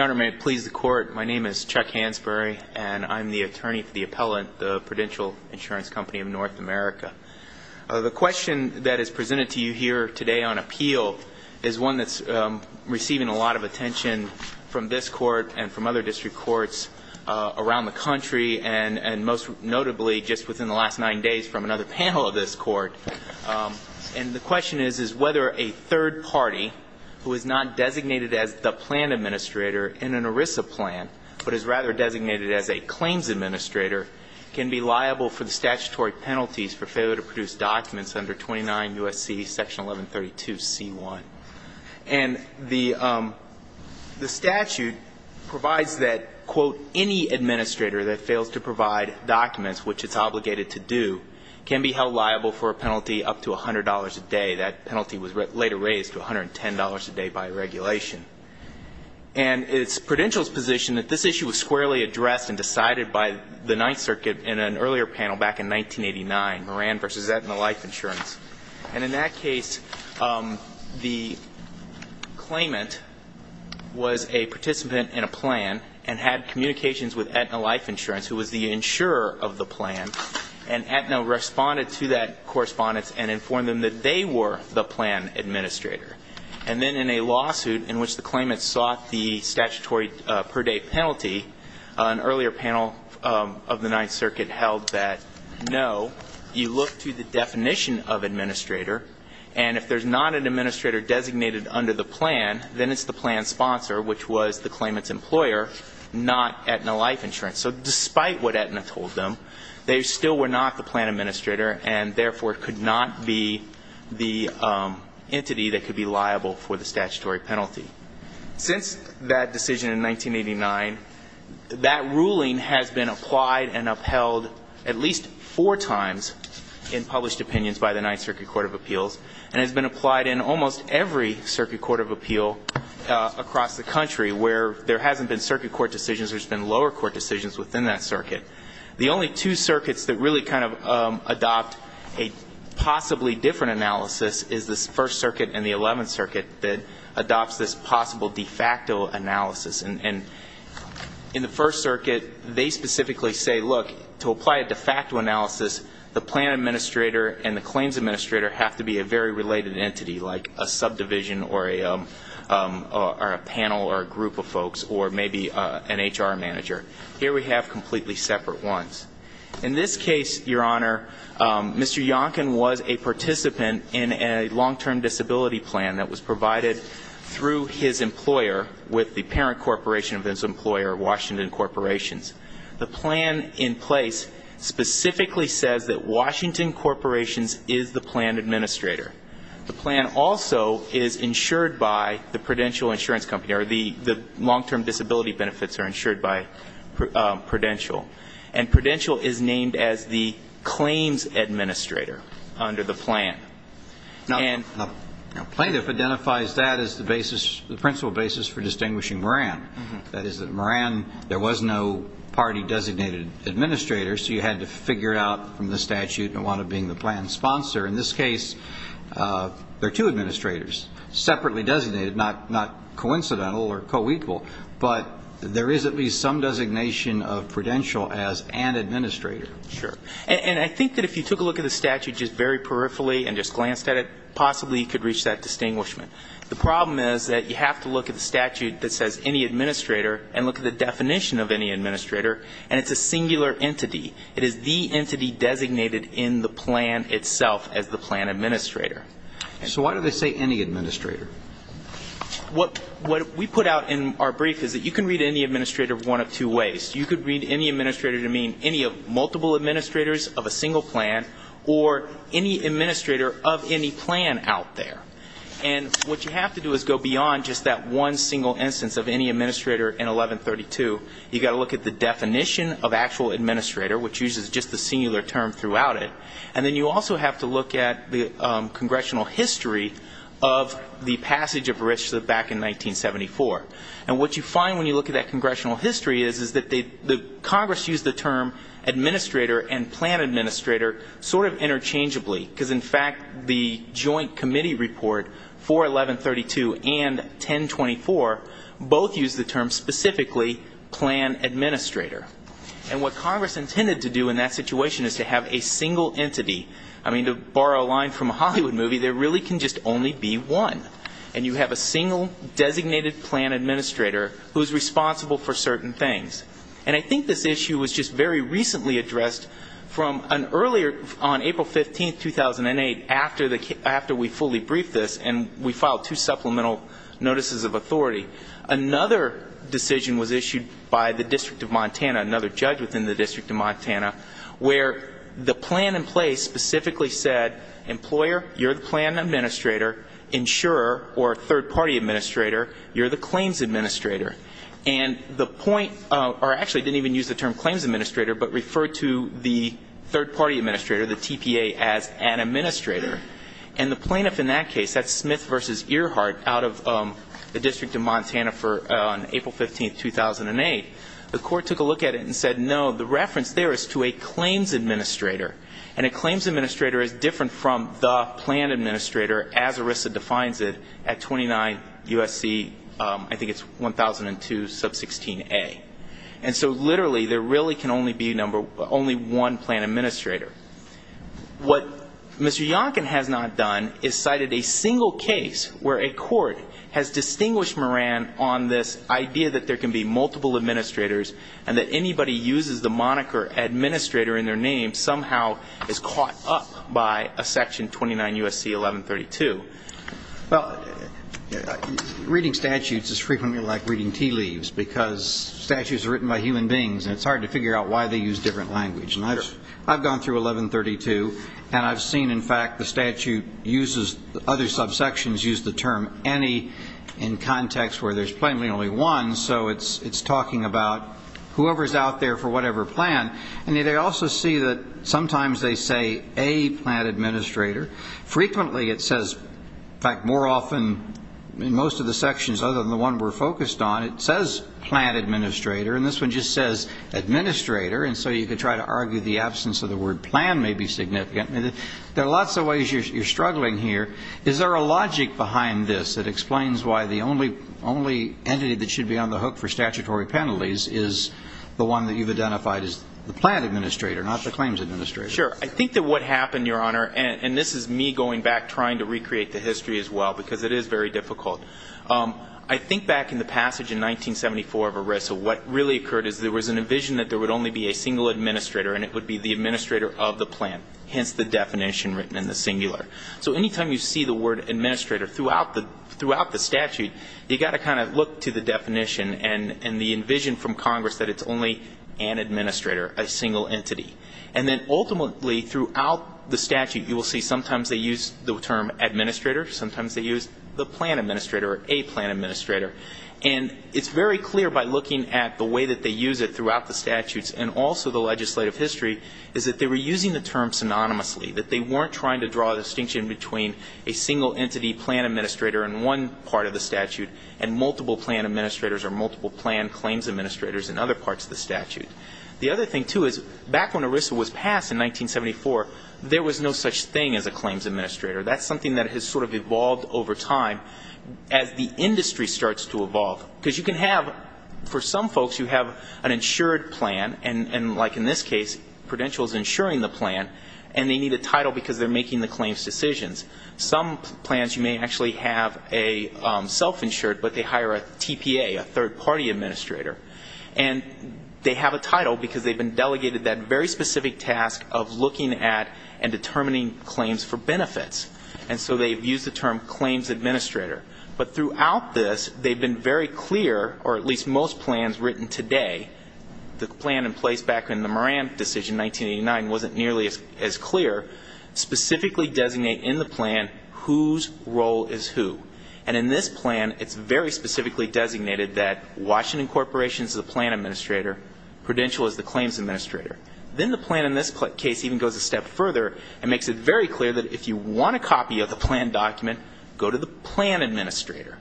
May it please the Court, my name is Chuck Hansberry and I'm the attorney for the appellant of Prudential Insurance Company of North America. The question that is presented to you here today on appeal is one that's receiving a lot of attention from this court and from other district courts around the country and most notably just within the last nine days from another panel of this court and the question is whether a third party who is not designated as the plan administrator in an ERISA plan but is rather designated as a claims administrator can be liable for the statutory penalties for a penalty up to $100 a day. And the statute provides that quote any administrator that fails to provide documents which it's obligated to do can be held liable for a penalty up to $100 a day. That penalty was later raised to $110 a day by regulation. And it's Prudential's position that this issue was squarely addressed and decided by the Ninth Circuit in an earlier panel back in 1989. And in that case the claimant was a participant in a plan and had communications with Aetna Life Insurance who was the insurer of the plan and Aetna responded to that correspondence and informed them that they were the plan administrator. And then in a lawsuit in which the claimant sought the statutory per day penalty an earlier panel of the Ninth Circuit held that no you look to the definition of administrator and if there's not an administrator designated under the plan then it's the plan sponsor which was the claimant's employer not Aetna Life Insurance. So despite what Aetna told them they still were not the plan administrator and therefore could not be the entity that could be liable for the statutory penalty. Since that decision in 1989 that ruling has been applied and upheld at least four times in published opinions by the Ninth Circuit Court of Appeals. And it's been applied in almost every circuit court of appeal across the country where there hasn't been circuit court decisions there's been lower court decisions within that circuit. The only two circuits that really kind of adopt a possibly different analysis is this First Circuit and the Eleventh Circuit that adopts this possible de facto analysis. And in the First Circuit they specifically say look to apply a de facto analysis the plan administrator and the claims administrator have to be a very related entity like a subdivision or a panel or a group of folks or maybe an HR manager. Here we have completely separate ones. In this case, Your Honor, Mr. Yonkin was a participant in a long-term disability plan that was provided through his employer with the parent corporation of his employer Washington Corporations. The plan in place specifically says that Washington Corporations is the plan administrator. The plan also is insured by the Prudential Insurance Company or the long-term disability benefits are insured by Prudential. And Prudential is named as the claims administrator under the plan. Plaintiff identifies that as the basis the principal basis for distinguishing Moran. That is that Moran there was no party designated administrator so you had to figure out from the statute and wanted being the plan sponsor. In this case there are two administrators separately designated not coincidental or co-equal. But there is at least some designation of Prudential as an administrator. Sure. And I think that if you took a look at the statute just very peripherally and just glanced at it, possibly you could reach that distinguishment. The problem is that you have to look at the statute that says any administrator and look at the definition of any administrator and it's a singular entity. It is the entity designated in the plan itself as the plan administrator. So why do they say any administrator? What we put out in our brief is that you can read any administrator one of two ways. You could read any administrator to mean any of multiple administrators of a single plan or any administrator of any plan out there. And what you have to do is go beyond just that one single instance of any administrator in 1132. You've got to look at the definition of actual administrator which uses just the singular term throughout it. And then you also have to look at the congressional history of the passage of RISC back in 1974. And what you find when you look at that congressional history is that Congress used the term administrator and plan administrator sort of interchangeably. Because, in fact, the joint committee report for 1132 and 1024 both used the term specifically plan administrator. And what Congress intended to do in that situation is to have a single entity. I mean, to borrow a line from a Hollywood movie, there really can just only be one. And you have a single designated plan administrator who's responsible for certain things. And I think this issue was just very recently addressed from an earlier, on April 15, 2008, after we fully briefed this and we filed two supplemental notices of authority. Another decision was issued by the District of Montana, another judge within the District of Montana, where the plan in place specifically said, employer, you're the plan administrator. Insurer, or third party administrator, you're the claims administrator. And the point, or actually didn't even use the term claims administrator, but referred to the third party administrator, the TPA, as an administrator. And the plaintiff in that case, that's Smith v. Earhart out of the District of Montana on April 15, 2008, the court took a look at it and said, no, the reference there is to a claims administrator. And a claims administrator is different from the plan administrator, as ERISA defines it, at 29 U.S.C., I think it's 1002 sub 16A. And so literally there really can only be one plan administrator. What Mr. Yonkin has not done is cited a single case where a court has distinguished Moran on this idea that there can be multiple administrators and that anybody uses the moniker administrator in their name somehow is caught up by a section 29 U.S.C. 1132. Well, reading statutes is frequently like reading tea leaves, because statutes are written by human beings and it's hard to figure out why they use different language. And I've gone through 1132 and I've seen, in fact, the statute uses, other subsections use the term any in context where there's plainly only one. So it's talking about whoever is out there for whatever plan. And I also see that sometimes they say a plan administrator. Frequently it says, in fact, more often in most of the sections other than the one we're focused on, it says plan administrator, and this one just says administrator. And so you could try to argue the absence of the word plan may be significant. There are lots of ways you're struggling here. Is there a logic behind this that explains why the only entity that should be on the hook for statutory penalties is the one that you've identified as the plan administrator, not the claims administrator? Sure. I think that what happened, Your Honor, and this is me going back trying to recreate the history as well, because it is very difficult. I think back in the passage in 1974 of ERISA, what really occurred is there was an envision that there would only be a single administrator and it would be the administrator of the plan, hence the definition written in the singular. So any time you see the word administrator throughout the statute, you've got to kind of look to the definition and the envision from Congress that it's only an administrator, a single entity. And then ultimately throughout the statute you will see sometimes they use the term administrator, sometimes they use the plan administrator. And it's very clear by looking at the way that they use it throughout the statutes and also the legislative history is that they were using the term synonymously, that they weren't trying to draw a distinction between a single entity plan administrator in one part of the statute and multiple plan administrators or multiple plan claims administrators in other parts of the statute. The other thing, too, is back when ERISA was passed in 1974, there was no such thing as a claims administrator. That's something that has sort of evolved over time as the industry starts to evolve. Because you can have, for some folks you have an insured plan, and like in this case Prudential is insuring the plan, and they need a title because they're making the claims decisions. Some plans you may actually have a self-insured, but they hire a TPA, a third-party administrator. And they have a title because they've been delegated that very specific task of looking at and determining claims for benefits. And so they've used the term claims administrator. But throughout this, they've been very clear, or at least most plans written today, the plan in place back in the Moran decision, 1989, wasn't nearly as clear, specifically designate in the plan whose role is who. And in this plan, it's very specifically designated that Washington Corporation is the plan administrator, Prudential is the claims administrator. Then the plan in this case even goes a step further and makes it very clear that if you want a copy of the plan document, go to the plan administrator.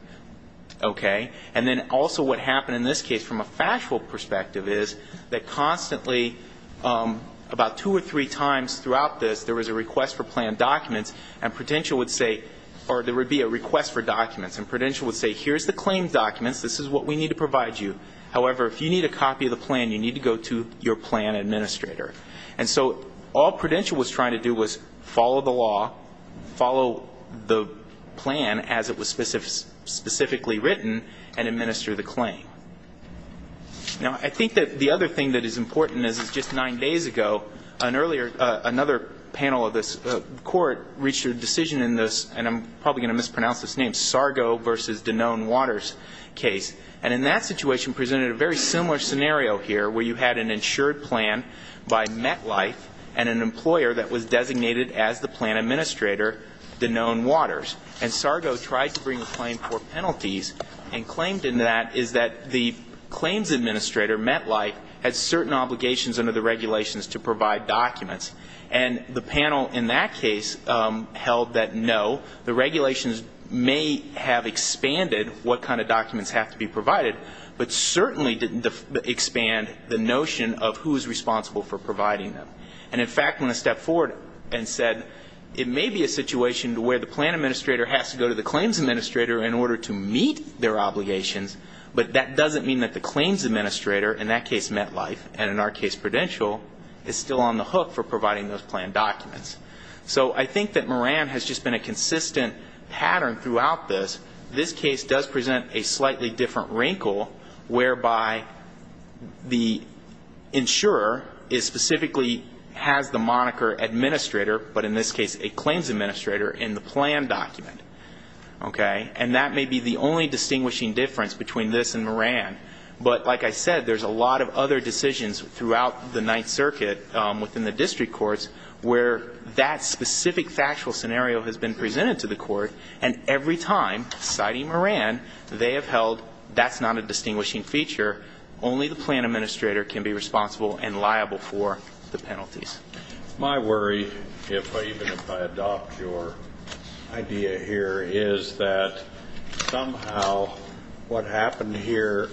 Okay? And then also what happened in this case from a factual perspective is that constantly, about two or three times throughout this, there was a request for plan documents, and Prudential would say, or there would be a request for documents. And Prudential would say, here's the claims documents, this is what we need to provide you. However, if you need a copy of the plan, you need to go to your plan administrator. And so all Prudential was trying to do was follow the law, follow the plan as it was specifically written, and administer the claim. Now, I think that the other thing that is important is just nine days ago, another panel of this court reached a decision in this, and I'm probably going to mispronounce this name, Sargo v. Danone-Waters case. And in that situation presented a very similar scenario here, where you had an insured plan by MetLife and an employer that was designated as the plan administrator, Danone-Waters. And Sargo tried to bring a claim for penalties, and claimed in that is that the claims administrator, MetLife, had certain obligations under the regulations to provide documents. And the panel in that case held that, no, the regulations may have expanded what kind of documents have to be provided, but certainly didn't expand the notion of who is responsible for providing them. And in fact, when I stepped forward and said, it may be a situation where the plan administrator has to go to the claims administrator in order to meet their obligations, but that doesn't mean that the claims administrator, in that case MetLife, and in our case Prudential, is still on the hook for providing them. So I think that Moran has just been a consistent pattern throughout this. This case does present a slightly different wrinkle, whereby the insurer is specifically has the moniker administrator, but in this case a claims administrator, in the plan document. Okay? And that may be the only distinguishing difference between this and Moran. But like I said, there's a lot of other decisions throughout the Ninth Circuit within the district court that are presented to the courts, where that specific factual scenario has been presented to the court, and every time, citing Moran, they have held that's not a distinguishing feature, only the plan administrator can be responsible and liable for the penalties. My worry, even if I adopt your idea here, is that somehow what happened here,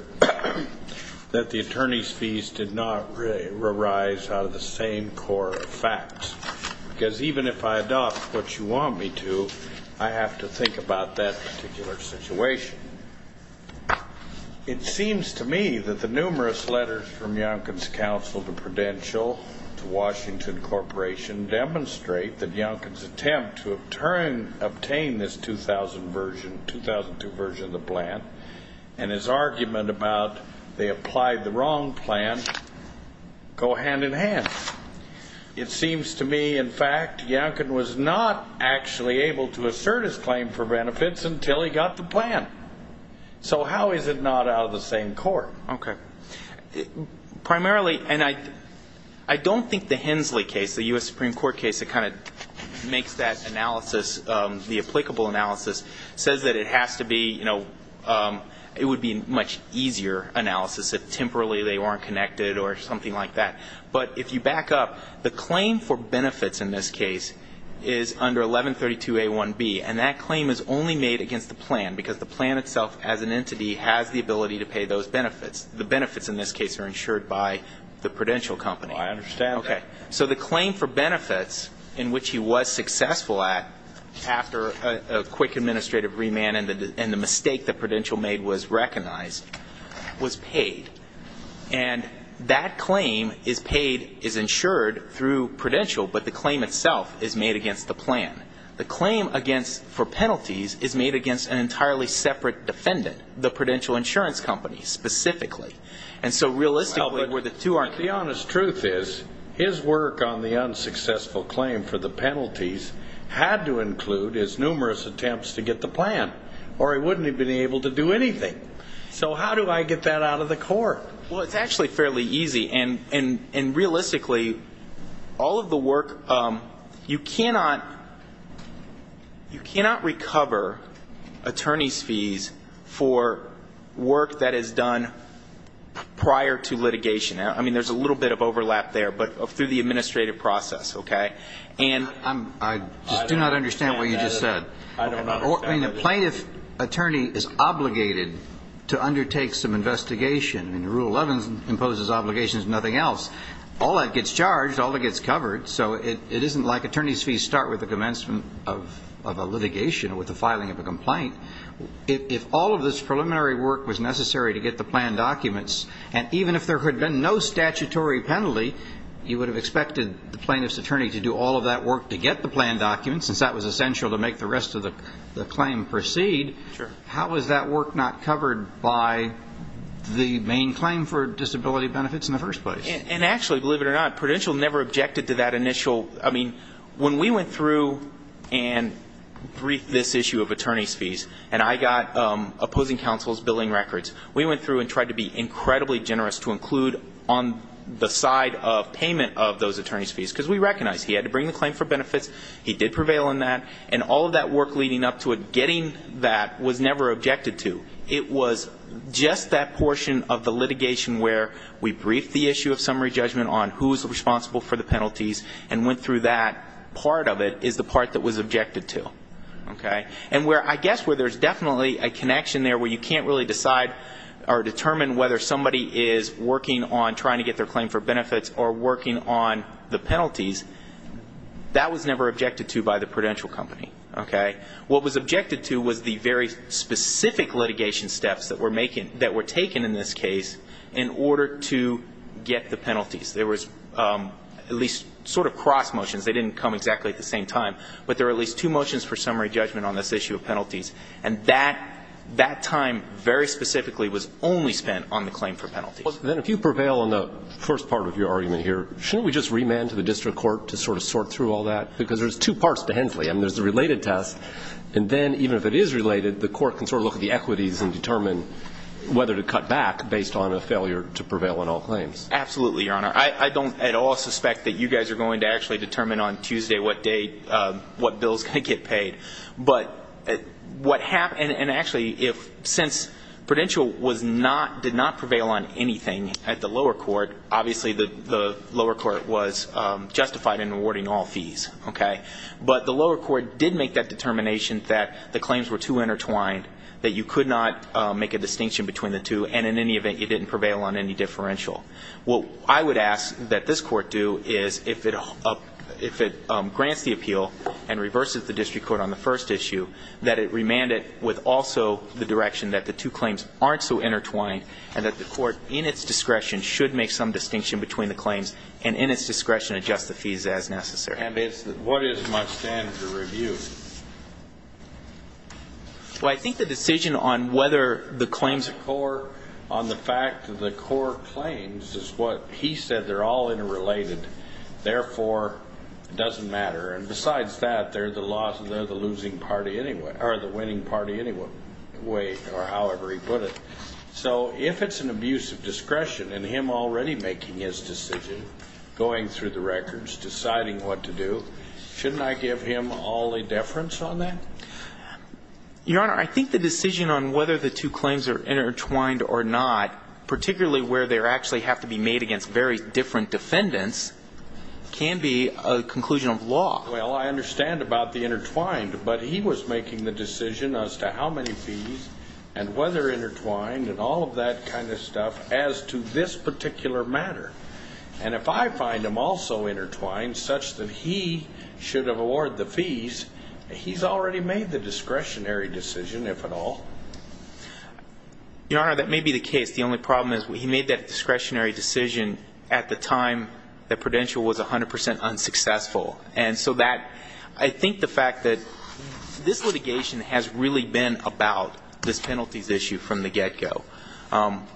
that the attorney's fees did not really rise out of the same core facts, because even if I adopt what you want me to, I have to think about that particular situation. It seems to me that the numerous letters from Youngkin's counsel to Prudential, to Washington Corporation, demonstrate that Youngkin's attempt to obtain this 2000 version, 2002 version of the plan, and his argument about they applied the wrong plan, go hand-in-hand. It seems to me that Youngkin's attempt to obtain this 2000 version, seems to me, in fact, Youngkin was not actually able to assert his claim for benefits until he got the plan. So how is it not out of the same core? Okay. Primarily, and I don't think the Hensley case, the U.S. Supreme Court case that kind of makes that analysis, the applicable analysis, says that it has to be, you know, it would be a much easier analysis if temporarily they weren't connected or something like that. But if you back up, the claim for benefits in this case is under 1132A1B, and that claim is only made against the plan, because the plan itself, as an entity, has the ability to pay those benefits. The benefits, in this case, are insured by the Prudential company. Well, I understand that. Okay. So the claim for benefits, in which he was successful at, after a quick administrative remand and the mistake that Prudential made was paid. And that claim is paid, is insured through Prudential, but the claim itself is made against the plan. The claim against, for penalties, is made against an entirely separate defendant, the Prudential Insurance Company, specifically. And so realistically, where the two are connected. Well, but the honest truth is, his work on the unsuccessful claim for the penalties had to include his numerous attempts to get the plan, or he wouldn't have been able to do anything. So how do I get that out of the court? Well, it's actually fairly easy. And realistically, all of the work, you cannot, you cannot recover attorney's fees for work that is done prior to litigation. I mean, there's a little bit of overlap there, but through the administrative process, okay? And I just do not understand what you just said. I mean, a plaintiff attorney is obligated to undertake some investigation. I mean, Rule 11 imposes obligations, nothing else. All that gets charged, all that gets covered. So it isn't like attorney's fees start with the commencement of a litigation, or with the filing of a complaint. If all of this preliminary work was necessary to get the plan documents, and even if there had been no statutory penalty, you would have expected the plaintiff's attorney to do all of that work to get the plan documents, since that was essential to make the rest of the case. So if the plaintiff's attorney is obligated to do all of that work to make the rest of the claim proceed, how is that work not covered by the main claim for disability benefits in the first place? And actually, believe it or not, Prudential never objected to that initial, I mean, when we went through and briefed this issue of attorney's fees, and I got opposing counsel's billing records, we went through and tried to be incredibly generous to include on the side of payment of those attorney's fees, because we recognized he had to bring the claim for benefits, he did prevail on that, and all of that work was done prior to litigation. And all of that work leading up to it, getting that, was never objected to. It was just that portion of the litigation where we briefed the issue of summary judgment on who's responsible for the penalties, and went through that. Part of it is the part that was objected to. And I guess where there's definitely a connection there where you can't really decide or determine whether somebody is working on trying to get their claim for benefits or working on the penalties, that was never objected to by the Prudential company. What was objected to was the very specific litigation steps that were taken in this case in order to get the penalties. There was at least sort of cross motions, they didn't come exactly at the same time, but there were at least two motions for summary judgment on this issue of penalties, and that time very specifically was only spent on the claim for penalties. Well, then if you prevail on the first part of your argument here, shouldn't we just remand to the district court to sort of sort through all that? Because there's two parts to Hensley. I mean, there's the related test, and then even if it is related, the court can sort of look at the equities and determine whether to cut back based on a failure to prevail on all claims. Absolutely, Your Honor. I don't at all suspect that you guys are going to actually determine on Tuesday what day, what bills could get paid. But what happened, and actually, since Prudential did not prevail on anything, I don't think that's going to be the case. I think that the court did make the determination that if the court did not prevail on anything at the lower court, obviously the lower court was justified in rewarding all fees, okay? But the lower court did make that determination that the claims were too intertwined, that you could not make a distinction between the two, and in any event, you didn't prevail on any differential. What I would ask that this court do is if it grants the appeal and reverses the district court on the first issue, that it remand it with also the direction that the two claims aren't so intertwined, and that the court, in its discretion, should make some distinction between the claims, and in its discretion, adjust the fees as necessary. And what is my standard of review? Well, I think the decision on whether the claims are core, on the fact that the core claims is what he said, they're all interrelated. Therefore, it doesn't matter. And besides that, they're the losing party anyway, or the winning party anyway, or however he put it. So if it's an abuse of discretion, and him already making his decision, going through the records, deciding what to do, shouldn't I give him all the definition? Your Honor, I think the decision on whether the two claims are intertwined or not, particularly where they actually have to be made against very different defendants, can be a conclusion of law. Well, I understand about the intertwined, but he was making the decision as to how many fees, and whether intertwined, and all of that kind of stuff, as to this particular matter. And if I find them also intertwined, such that he should have awarded the fees, he's already made the discretionary decision, if at all. Your Honor, that may be the case. The only problem is he made that discretionary decision at the time that Prudential was 100% unsuccessful. And so that, I think the fact that this litigation has really been about this penalties issue from the get-go.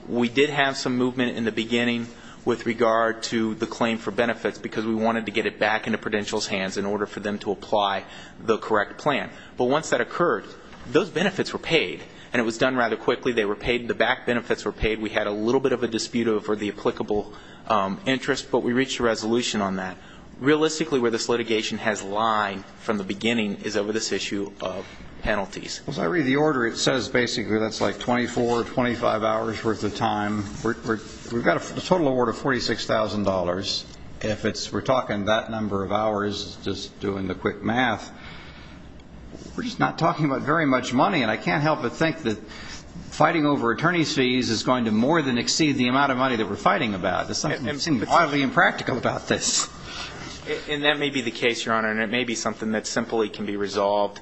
We did have some movement in the beginning with regard to the claim for benefits, because we wanted to get it back into Prudential's hands in order for them to apply the correct plan. But once that occurred, those benefits were paid. And it was done rather quickly. They were paid, the back benefits were paid. We had a little bit of a dispute over the applicable interest, but we reached a resolution on that. Realistically, where this litigation has lied from the beginning is over this issue of penalties. As I read the order, it says basically that's like 24, 25 hours' worth of time. We've got a total award of $46,000. If we're talking that number of hours, just doing the quick math, we're just not talking about very much money. And I can't help but think that fighting over attorney's fees is going to more than exceed the amount of money that we're fighting about. It seems wildly impractical about this. And that may be the case, Your Honor. And it may be something that simply can be resolved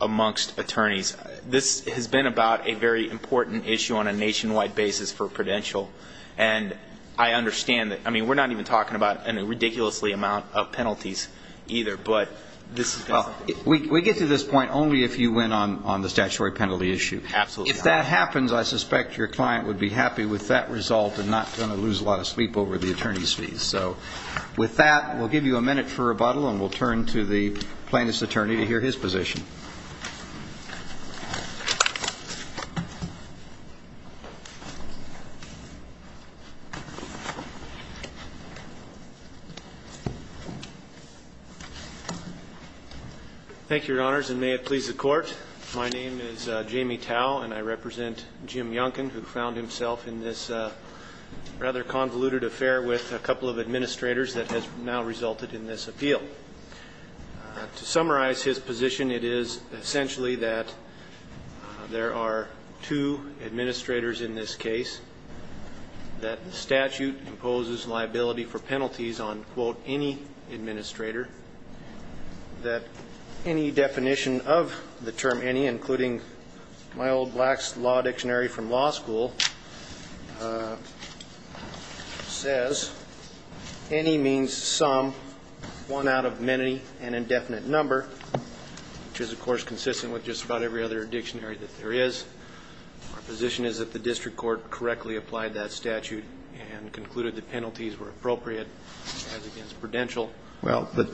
amongst attorneys. This has been about a very important issue on a nationwide basis for Prudential. And I understand that. I mean, we're not even talking about a ridiculously amount of penalties either. We get to this point only if you win on the statutory penalty issue. If that happens, I suspect your client would be happy with that result and not going to lose a lot of sleep over the attorney's fees. So with that, we'll give you a minute for rebuttal, and we'll turn to the plaintiff's attorney to hear his position. Thank you, Your Honors, and may it please the Court. My name is Jamie Tao, and I represent Jim Yonken, who found himself in this rather convoluted affair with a couple of administrators that has now resulted in this appeal. To summarize his position, it is essentially that there are two administrators in this case, that the statute imposes liability for penalties on, quote, any administrator, that any definition of the term any, including my old black law dictionary from law school, says any means some, one out of many, an indefinite number, which is, of course, consistent with just about every other dictionary that there is. My position is that the district court correctly applied that statute and concluded that penalties were appropriate as against Prudential. Well, but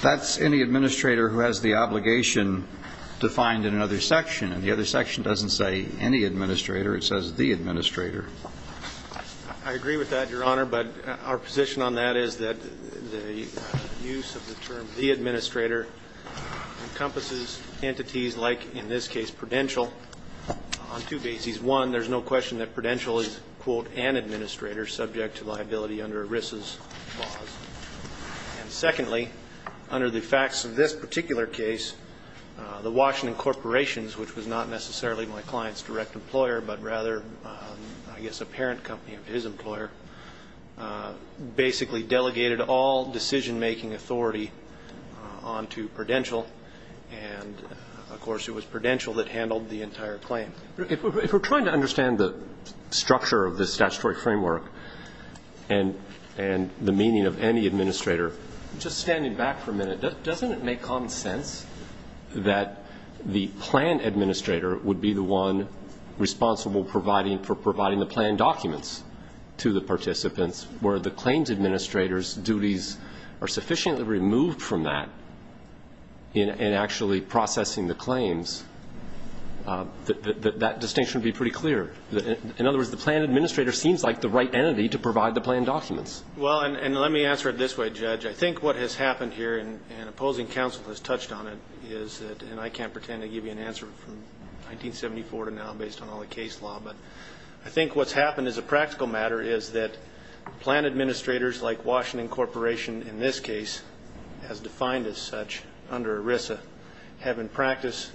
that's any administrator who has the obligation defined in another section, and the other section doesn't say any administrator, it says the administrator. I agree with that, Your Honor, but our position on that is that the use of the term the administrator encompasses entities like, in this case, Prudential, on two bases. One, there's no question that Prudential is, quote, an administrator subject to liability under ERISA's laws. And secondly, under the facts of this particular case, the Washington Corporations, which was not necessarily my client's direct employer, but rather, I guess, a parent company of his employer, basically delegated all decision-making authority on to Prudential, and, of course, it was Prudential that handled the entire claim. If we're trying to understand the structure of this statutory framework and the meaning of any administrator, just standing back for a minute, doesn't it make common sense that the plan administrator would be the one responsible for providing the plan documents to the participants where the claims administrator's duties are sufficiently removed from that in actually processing the claims? That distinction would be pretty clear. In other words, the plan administrator seems like the right entity to provide the plan documents. Well, and let me answer it this way, Judge, I think what has happened here, and opposing counsel has touched on it, is that, and I can't pretend to give you an answer from 1974 to now based on all the case law, but I think what's happened as a practical matter is that plan administrators like Washington Corporation, in this case, as defined as such under ERISA, have in practice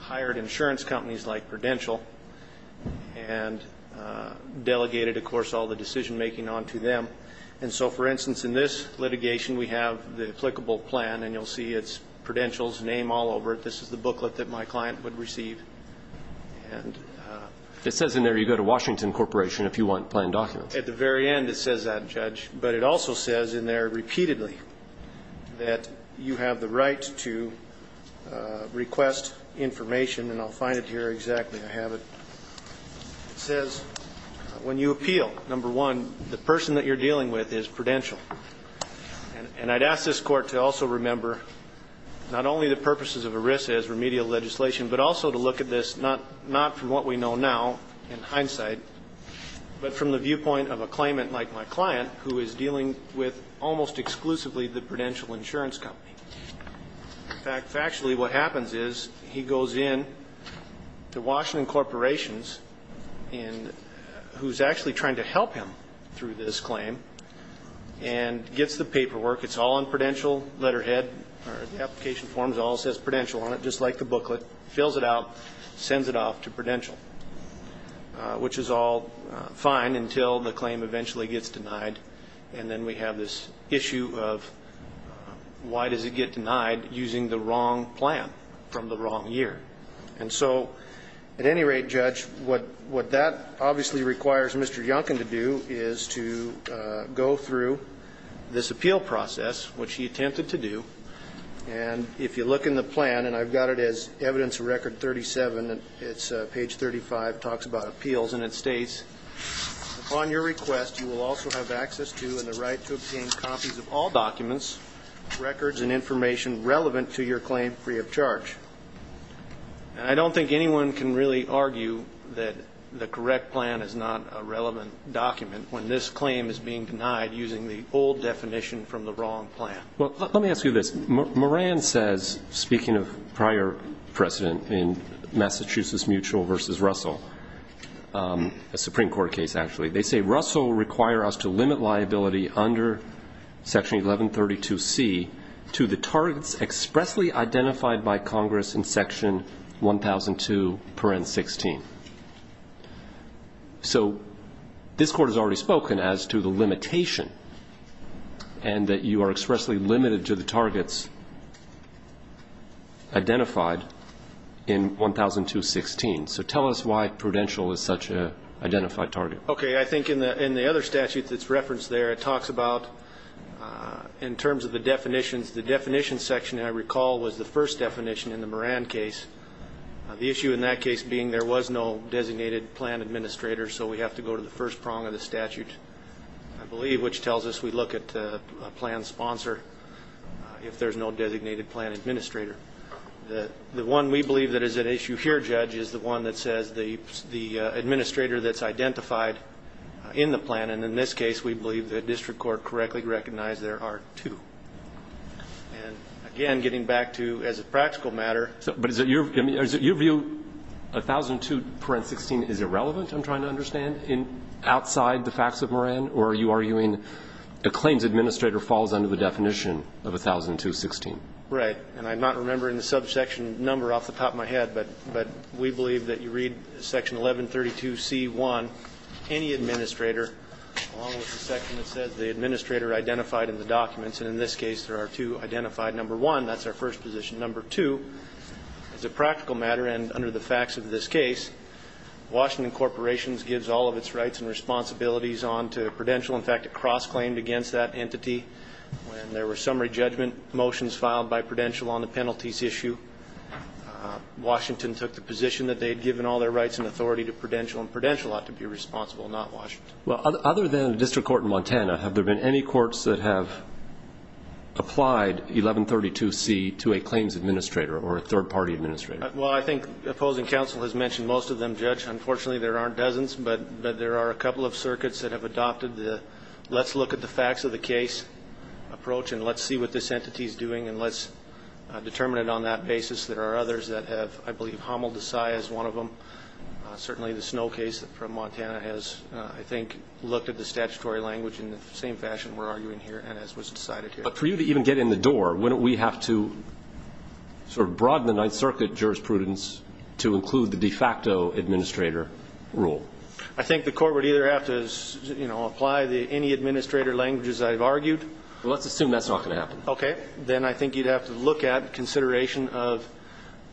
hired insurance companies like Prudential and delegated, of course, all the decision-making on to them. And so, for instance, in this litigation, we have the applicable plan, and you'll see it's Prudential's name all over it. This is the booklet that my client would receive. It says in there you go to Washington Corporation if you want plan documents. At the very end it says that, Judge, but it also says in there repeatedly that you have the right to request information, and I'll find it here exactly, I have it. It says when you appeal, number one, the person that you're dealing with is Prudential. And I'd ask this Court to also remember not only the purposes of ERISA as remedial legislation, but also to look at this not from what we know now in hindsight, but from the viewpoint of a claimant like my client who is dealing with almost exclusively the Prudential Insurance Company. In fact, factually what happens is he goes in to Washington Corporations, who's actually trying to help him through this claim, and gets the paperwork. It's all on Prudential, letterhead, or the application forms all says Prudential on it, just like the booklet, fills it out, sends it off to Prudential, which is all fine until the claim eventually gets denied, and then we have this issue of why does it get denied using the wrong plan from the wrong year. And so at any rate, Judge, what that obviously requires Mr. Yunkin to do is to go through this appeal process, which he attempted to do, and if you look in the plan, and I've got it as evidence record 37, it's page 35, talks about appeals, and it states, upon your request you will also have access to and the right to obtain copies of all documents, records and information relevant to your claim free of charge. And I don't think anyone can really argue that the correct plan is not a relevant document when this claim is being denied using the old definition from the wrong plan. Well, let me ask you this. Moran says, speaking of prior precedent in Massachusetts Mutual versus Russell, a Supreme Court case actually, they say Russell will require us to limit liability under Section 1132C to the targets expressly identified by Congress in Section 1002.16. So this Court has already spoken as to the limitation, and that you are expressly limited to the targets identified in 1002.16. So tell us why prudential is such an identified target. Okay. I think in the other statute that's referenced there, it talks about, in terms of the definitions, the definitions section, I recall, was the first definition in the Moran case. The issue in that case being there was no designated plan administrator, so we have to go to the first prong of the statute, I believe, which tells us we look at a plan sponsor if there's no designated plan administrator. The one we believe that is at issue here, Judge, is the one that says the administrator that's identified in the plan, and in this case we believe the district court correctly recognized there are two. And again, getting back to, as a practical matter... But is it your view, 1002.16 is irrelevant, I'm trying to understand, outside the facts of Moran, or are you arguing a claims administrator falls under the definition of 1002.16? Right. And I'm not remembering the subsection number off the top of my head, but we believe that you read section 1132c.1, any administrator, along with the section that says the administrator identified in the documents, and in this case there are two identified. Number one, that's our first position. Number two, as a practical matter and under the facts of this case, Washington Corporations gives all of its rights and responsibilities on to Prudential. In fact, it cross-claimed against that entity when there were summary judgment motions filed by Prudential on the penalties issue. Washington took the position that they had given all their rights and authority to Prudential, and Prudential ought to be responsible, not Washington. Well, other than the district court in Montana, have there been any courts that have applied 1132c to a claims administrator or a third-party administrator? Well, I think opposing counsel has mentioned most of them, Judge. Unfortunately, there aren't dozens, but there are a couple of circuits that have adopted the let's look at the facts of the case approach and let's see what this entity is doing and let's determine it on that basis. There are others that have, I believe, Hummel, Desai is one of them. Certainly the Snow case from Montana has, I think, looked at the statutory language in the same fashion we're arguing here and as was decided here. But for you to even get in the door, wouldn't we have to sort of broaden the Ninth Circuit jurisprudence to include the de facto administrator rule? I think the court would either have to, you know, apply any administrator languages I've argued. Let's assume that's not going to happen. Okay. Then I think you'd have to look at consideration of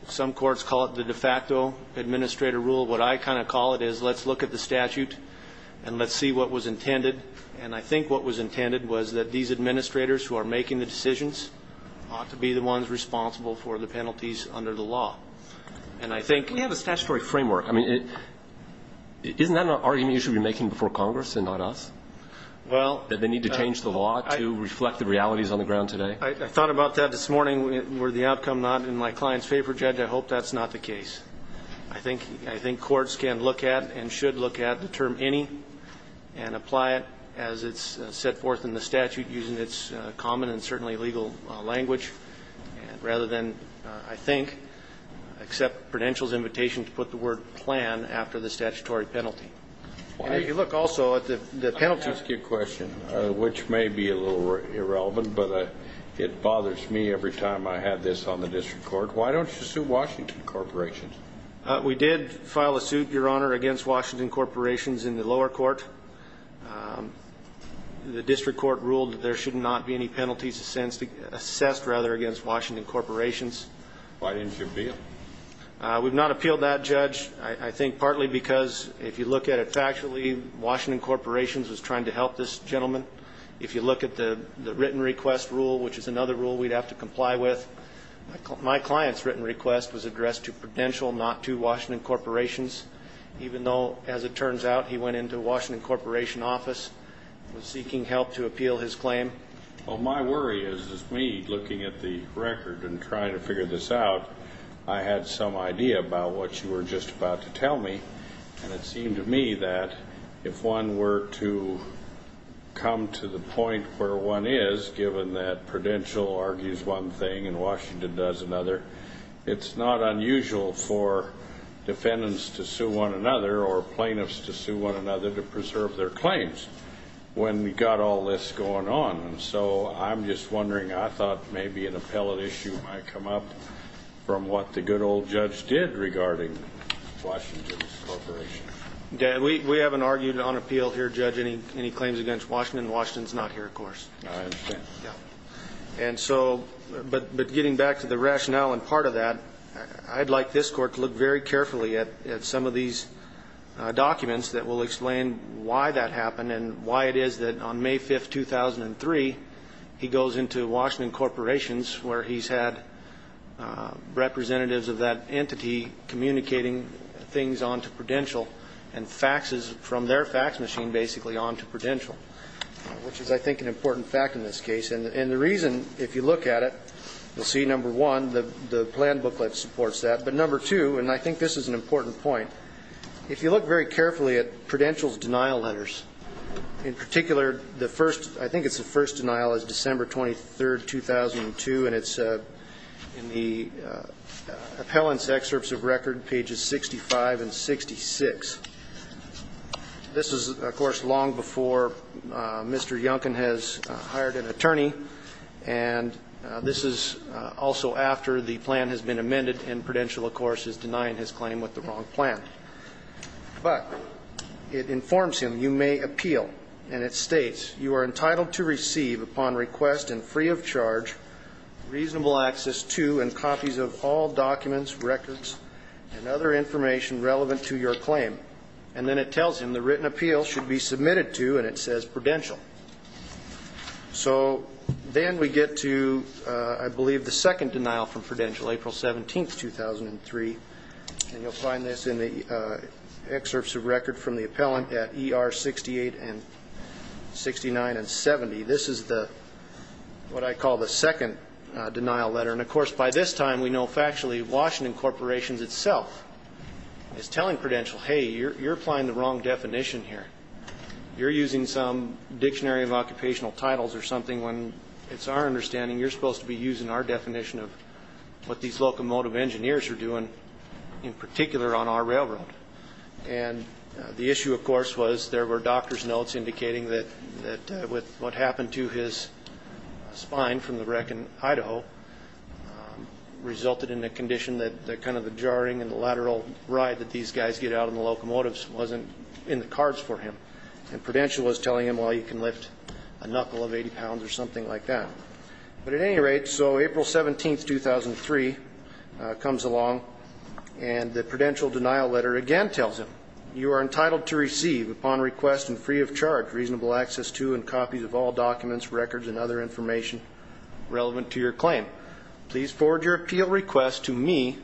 some courts call it the de facto administrator rule. What I kind of call it is let's look at the statute and let's see what was intended. And I think what was intended was that these administrators who are making the decisions ought to be the ones responsible for the penalties under the law. We have a statutory framework. Isn't that an argument you should be making before Congress and not us, that they need to change the law to reflect the realities on the ground today? I thought about that this morning. Were the outcome not in my client's favor, Judge, I hope that's not the case. I think courts can look at and should look at the term any and apply it as it's set forth in the statute using its common and certainly legal language rather than, I think, accept Prudential's invitation to put the word plan after the statutory penalty. And if you look also at the penalty. I'll ask you a question, which may be a little irrelevant, but it bothers me every time I have this on the district court. Why don't you sue Washington Corporations? We did file a suit, Your Honor, against Washington Corporations in the lower court. The district court ruled that there should not be any penalties assessed rather against Washington Corporations. Why didn't you appeal? We've not appealed that, Judge, I think partly because if you look at it factually, Washington Corporations was trying to help this gentleman. If you look at the written request rule, which is another rule we'd have to comply with, my client's written request was addressed to Prudential, not to Washington Corporations, even though, as it turns out, he went into Washington Corporation office and was seeking help to appeal his claim. Well, my worry is, as me looking at the record and trying to figure this out, I had some idea about what you were just about to tell me, and it seemed to me that if one were to come to the point where one is, given that Prudential argues one thing and Washington does another, it's not unusual for defendants to sue one another or plaintiffs to sue one another to preserve their claims when you've got all this going on. And so I'm just wondering, I thought maybe an appellate issue might come up from what the good old judge did regarding Washington Corporation. We haven't argued on appeal here, Judge, any claims against Washington. Washington's not here, of course. But getting back to the rationale and part of that, I'd like this Court to look very carefully at some of these documents that will explain why that happened and why it is that on May 5, 2003, he goes into Washington Corporations where he's had representatives of that entity communicating things on to Prudential and faxes from their fax machine basically on to Prudential, which is, I think, an important fact in this case. And the reason, if you look at it, you'll see, number one, the plan booklet supports that, but number two, and I think this is an important point, if you look very carefully at Prudential's denial letters, in particular, the first, I think it's the first denial is December 23, 2002, and it's in the appellant's excerpts of record, pages 65 and 66. This is, of course, long before Mr. Youngkin has hired an attorney, and this is also after the plan has been amended, and Prudential, of course, is denying his claim with the wrong plan. But it informs him, you may appeal, and it states, you are entitled to receive, upon request and free of charge, reasonable access to and copies of all documents, records, and other information relevant to your claim. And then it tells him the written appeal should be submitted to, and it says Prudential. So then we get to, I believe, the second denial from Prudential, April 17, 2003, and you'll find this in the excerpts of record from the appellant at ER 68 and 68. This is what I call the second denial letter. And, of course, by this time, we know factually Washington Corporation itself is telling Prudential, hey, you're applying the wrong definition here. You're using some dictionary of occupational titles or something when it's our understanding you're supposed to be using our definition of what these locomotive engineers are doing, in particular, on our railroad. And the issue, of course, was there were doctor's notes indicating that with what happened to his spine from the wreck in Idaho resulted in a condition that kind of the jarring and the lateral ride that these guys get out on the locomotives wasn't in the cards for him. And Prudential was telling him, well, you can lift a knuckle of 80 pounds or something like that. But at any rate, so April 17, 2003, comes along, and the Prudential denial letter again tells him, you are entitled to receive, upon request and free of charge, reasonable access to and copies of all documents, records and other information relevant to your claim. Please forward your appeal request to me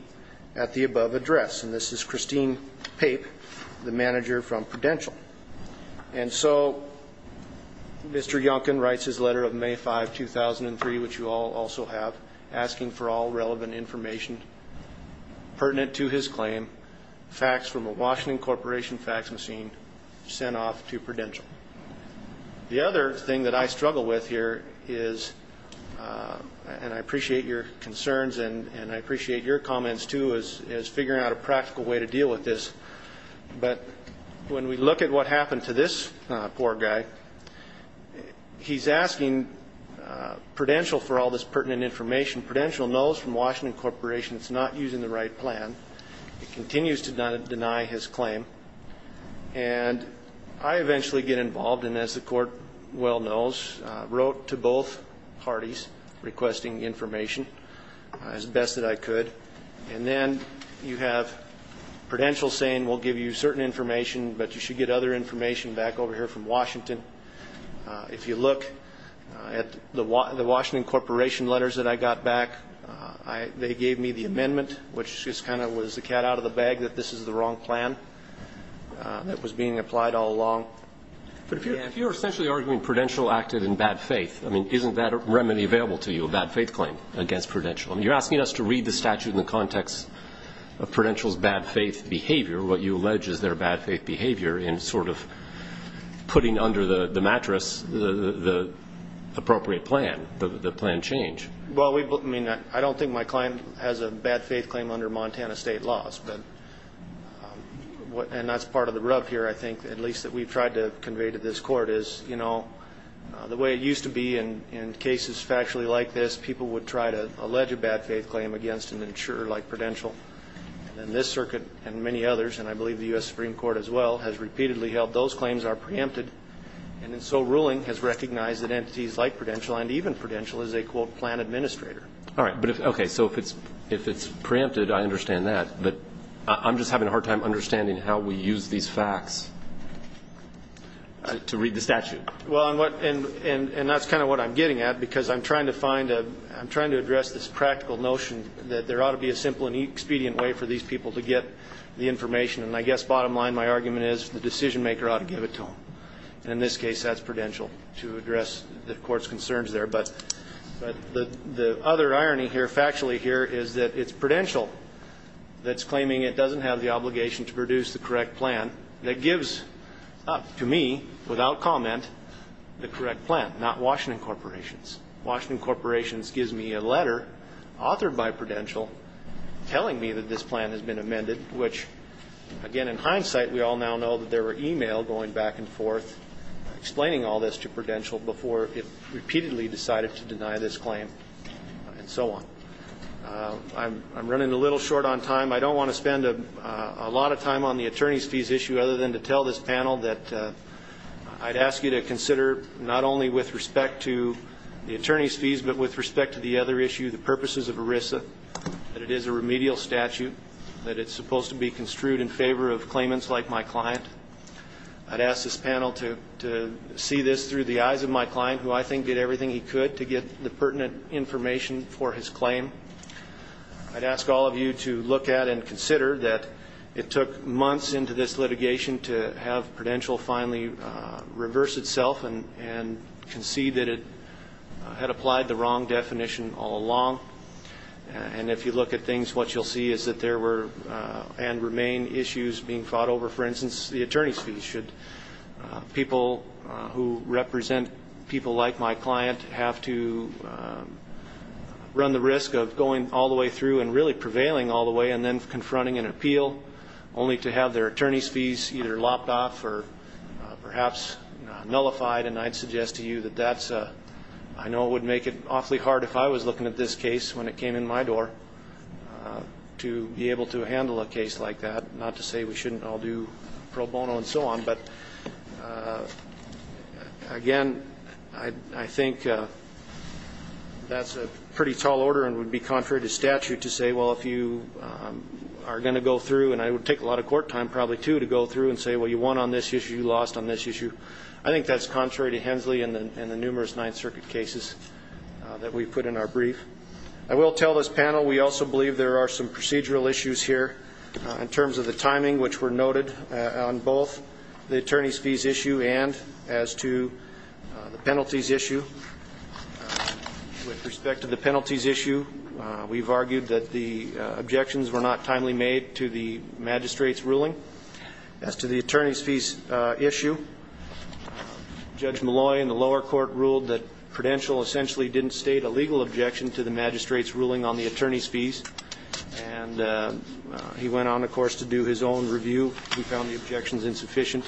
at the above address. And this is Christine Pape, the manager from Prudential. And so Mr. Yonken writes his letter of May 5, 2003, which you all also have, asking for all relevant information pertinent to his claim, faxed from a Washington Corporation fax machine, sent off to Prudential. The other thing that I struggle with here is, and I appreciate your concerns, and I appreciate your comments, too, is figuring out a practical way to deal with this. But when we look at what happened to this poor guy, he's asking Prudential for all this pertinent information. Prudential knows from Washington Corporation it's not using the right plan. It continues to deny his claim. And I eventually get involved, and as the Court well knows, wrote to both parties requesting information as best that I could. And then you have Prudential saying we'll give you certain information, but you should get other information back over here from Washington. If you look at the Washington Corporation letters that I got back, they gave me the amendment, which just kind of was the cat out of the bag that this is the wrong plan that was being applied all along. But if you're essentially arguing Prudential acted in bad faith, I mean, isn't that remedy available to you, a bad faith claim against Prudential? I mean, you're asking us to read the statute in the context of Prudential's bad faith behavior, what you allege is their bad faith behavior in sort of putting under the mattress the appropriate plan, the plan change. Well, I mean, I don't think my client has a bad faith claim under Montana state laws. And that's part of the rub here, I think, at least that we've tried to convey to this Court, is, you know, the way it used to be in cases factually like this, people would try to allege a bad faith claim against an insurer like Prudential. And this circuit and many others, and I believe the U.S. Supreme Court as well, has repeatedly held those claims are preempted. And so ruling has recognized that entities like Prudential, and even Prudential, is a, quote, plan administrator. All right. Okay, so if it's preempted, I understand that. But I'm just having a hard time understanding how we use these facts to read the statute. Well, and that's kind of what I'm getting at, because I'm trying to find a, I'm trying to address this practical notion that there ought to be a simple and expedient way for these people to get the information. And I guess bottom line, my argument is the decision-maker ought to give it to them. And in this case, that's Prudential to address the Court's concerns there. But the other irony here, factually here, is that it's Prudential that's claiming it doesn't have the obligation to produce the correct plan that gives up to me, without comment, the correct plan, not Washington Corporations. Washington Corporations gives me a letter authored by Prudential telling me that this plan has been amended, which, again, in hindsight, we all now know that there were e-mail going back and forth explaining all this to Prudential before it repeatedly decided to deny this claim, and so on. I'm running a little short on time. I don't want to spend a lot of time on the attorneys' fees issue other than to tell this panel that I'd ask you to consider, not only with respect to the attorneys' fees, but with respect to the other issue, the purposes of ERISA, that it is a remedial statute, that it's supposed to be construed in favor of claimants like my client. I'd ask this panel to see this through the eyes of my client, who I think did everything he could to get the pertinent information for his claim. I'd ask all of you to look at and consider that it took months into this litigation to have Prudential finally reverse itself and concede that it had applied the wrong definition all along. And if you look at things, what you'll see is that there were and remain issues being fought over. For instance, the attorneys' fees. Should people who represent people like my client have to run the risk of going all the way through and really prevailing all the way and then confronting an appeal, only to have their attorneys' fees either lopped off or perhaps nullified? And I'd suggest to you that that's a, I know it would make it awfully hard if I was looking at this case when it came in my door, to be able to handle a case like that, not to say we shouldn't all do pro bono and so on, but again, I think that's a pretty tall order and would be contrary to statute to say, well, if you are going to go through, and it would take a lot of court time probably, too, to go through and say, well, you won on this issue, you lost on this issue. I think that's contrary to Hensley and the numerous Ninth Circuit cases that we put in our brief. I will tell this panel we also believe there are some procedural issues here in terms of the timing, which were noted on both the attorneys' fees issue and as to the penalties issue. With respect to the penalties issue, we've argued that the objections were not timely made to the magistrate's ruling. As to the attorneys' fees issue, Judge Malloy in the lower court ruled that Prudential essentially didn't state a legal objection to the magistrate's ruling on the attorneys' fees, and he went on, of course, to do his own review. He found the objections insufficient.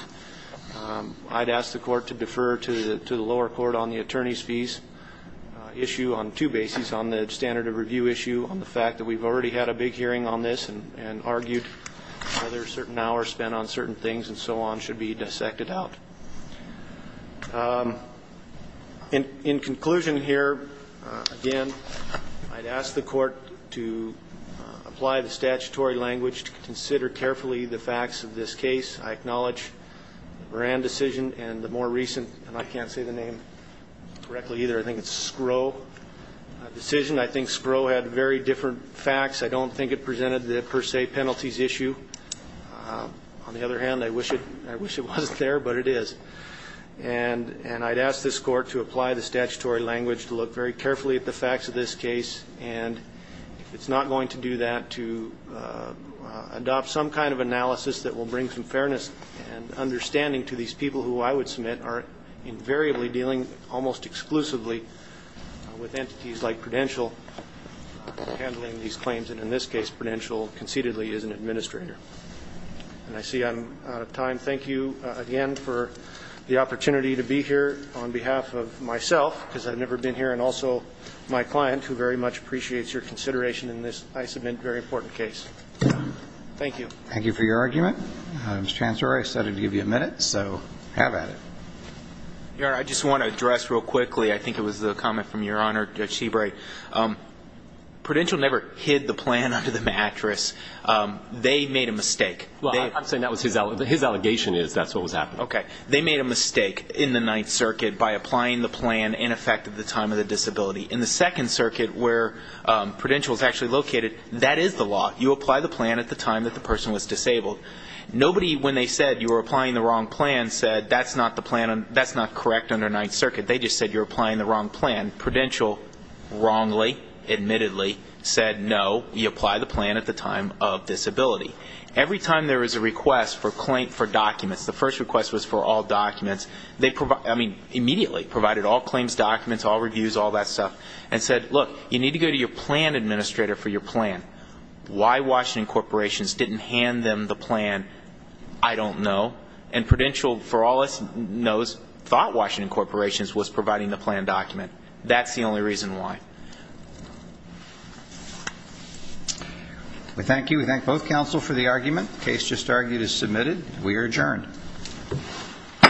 I'd ask the court to defer to the lower court on the attorneys' fees issue on two bases, on the standard of review issue, on the fact that we've already had a big hearing on this and argued whether certain hours spent on certain things and so on should be dissected out. In conclusion here, again, I'd ask the court to apply the statutory language to consider carefully the facts of this case. I acknowledge the Moran decision and the more recent, and I can't say the name correctly either, I think it's Skrow decision. I think Skrow had very different facts. I don't think it presented the per se penalties issue. On the other hand, I wish it wasn't there, but it is. And I'd ask this court to apply the statutory language to look very carefully at the facts of this case, and if it's not going to do that, to adopt some kind of analysis that will bring some fairness and understanding to these people who I would submit are invariably dealing almost exclusively with entities like Prudential handling these claims, and in this case Prudential concededly is an administrator. And I see I'm out of time. Thank you again for the opportunity to be here on behalf of myself, because I've never been here, and also my client, who very much appreciates your consideration in this, I submit, very important case. Thank you. Thank you for your argument, Mr. Chancellor. I said I'd give you a minute, so have at it. Your Honor, I just want to address real quickly, I think it was the comment from Your Honor, Judge Seabright. Prudential never hid the plan under the mattress. They made a mistake. Well, I'm saying that was his allegation is that's what was happening. Okay. They made a mistake in the Ninth Circuit by applying the plan in effect at the time of the disability. In the Second Circuit, where Prudential is actually located, that is the law. You apply the plan at the time that the person was disabled. Nobody, when they said you were applying the wrong plan, said that's not the plan. That's not correct under Ninth Circuit. They just said you're applying the wrong plan. Prudential wrongly, admittedly, said, no, you apply the plan at the time of disability. Every time there was a request for documents, the first request was for all documents, they immediately provided all claims documents, all reviews, all that stuff, and said, look, you need to go to your plan administrator for your plan. Why Washington corporations didn't hand them the plan, I don't know. And Prudential, for all it knows, thought Washington corporations was providing the plan document. That's the only reason why. We thank you. We thank both counsel for the argument. The case just argued is submitted. We are adjourned. All rise. This court for this session stands adjourned.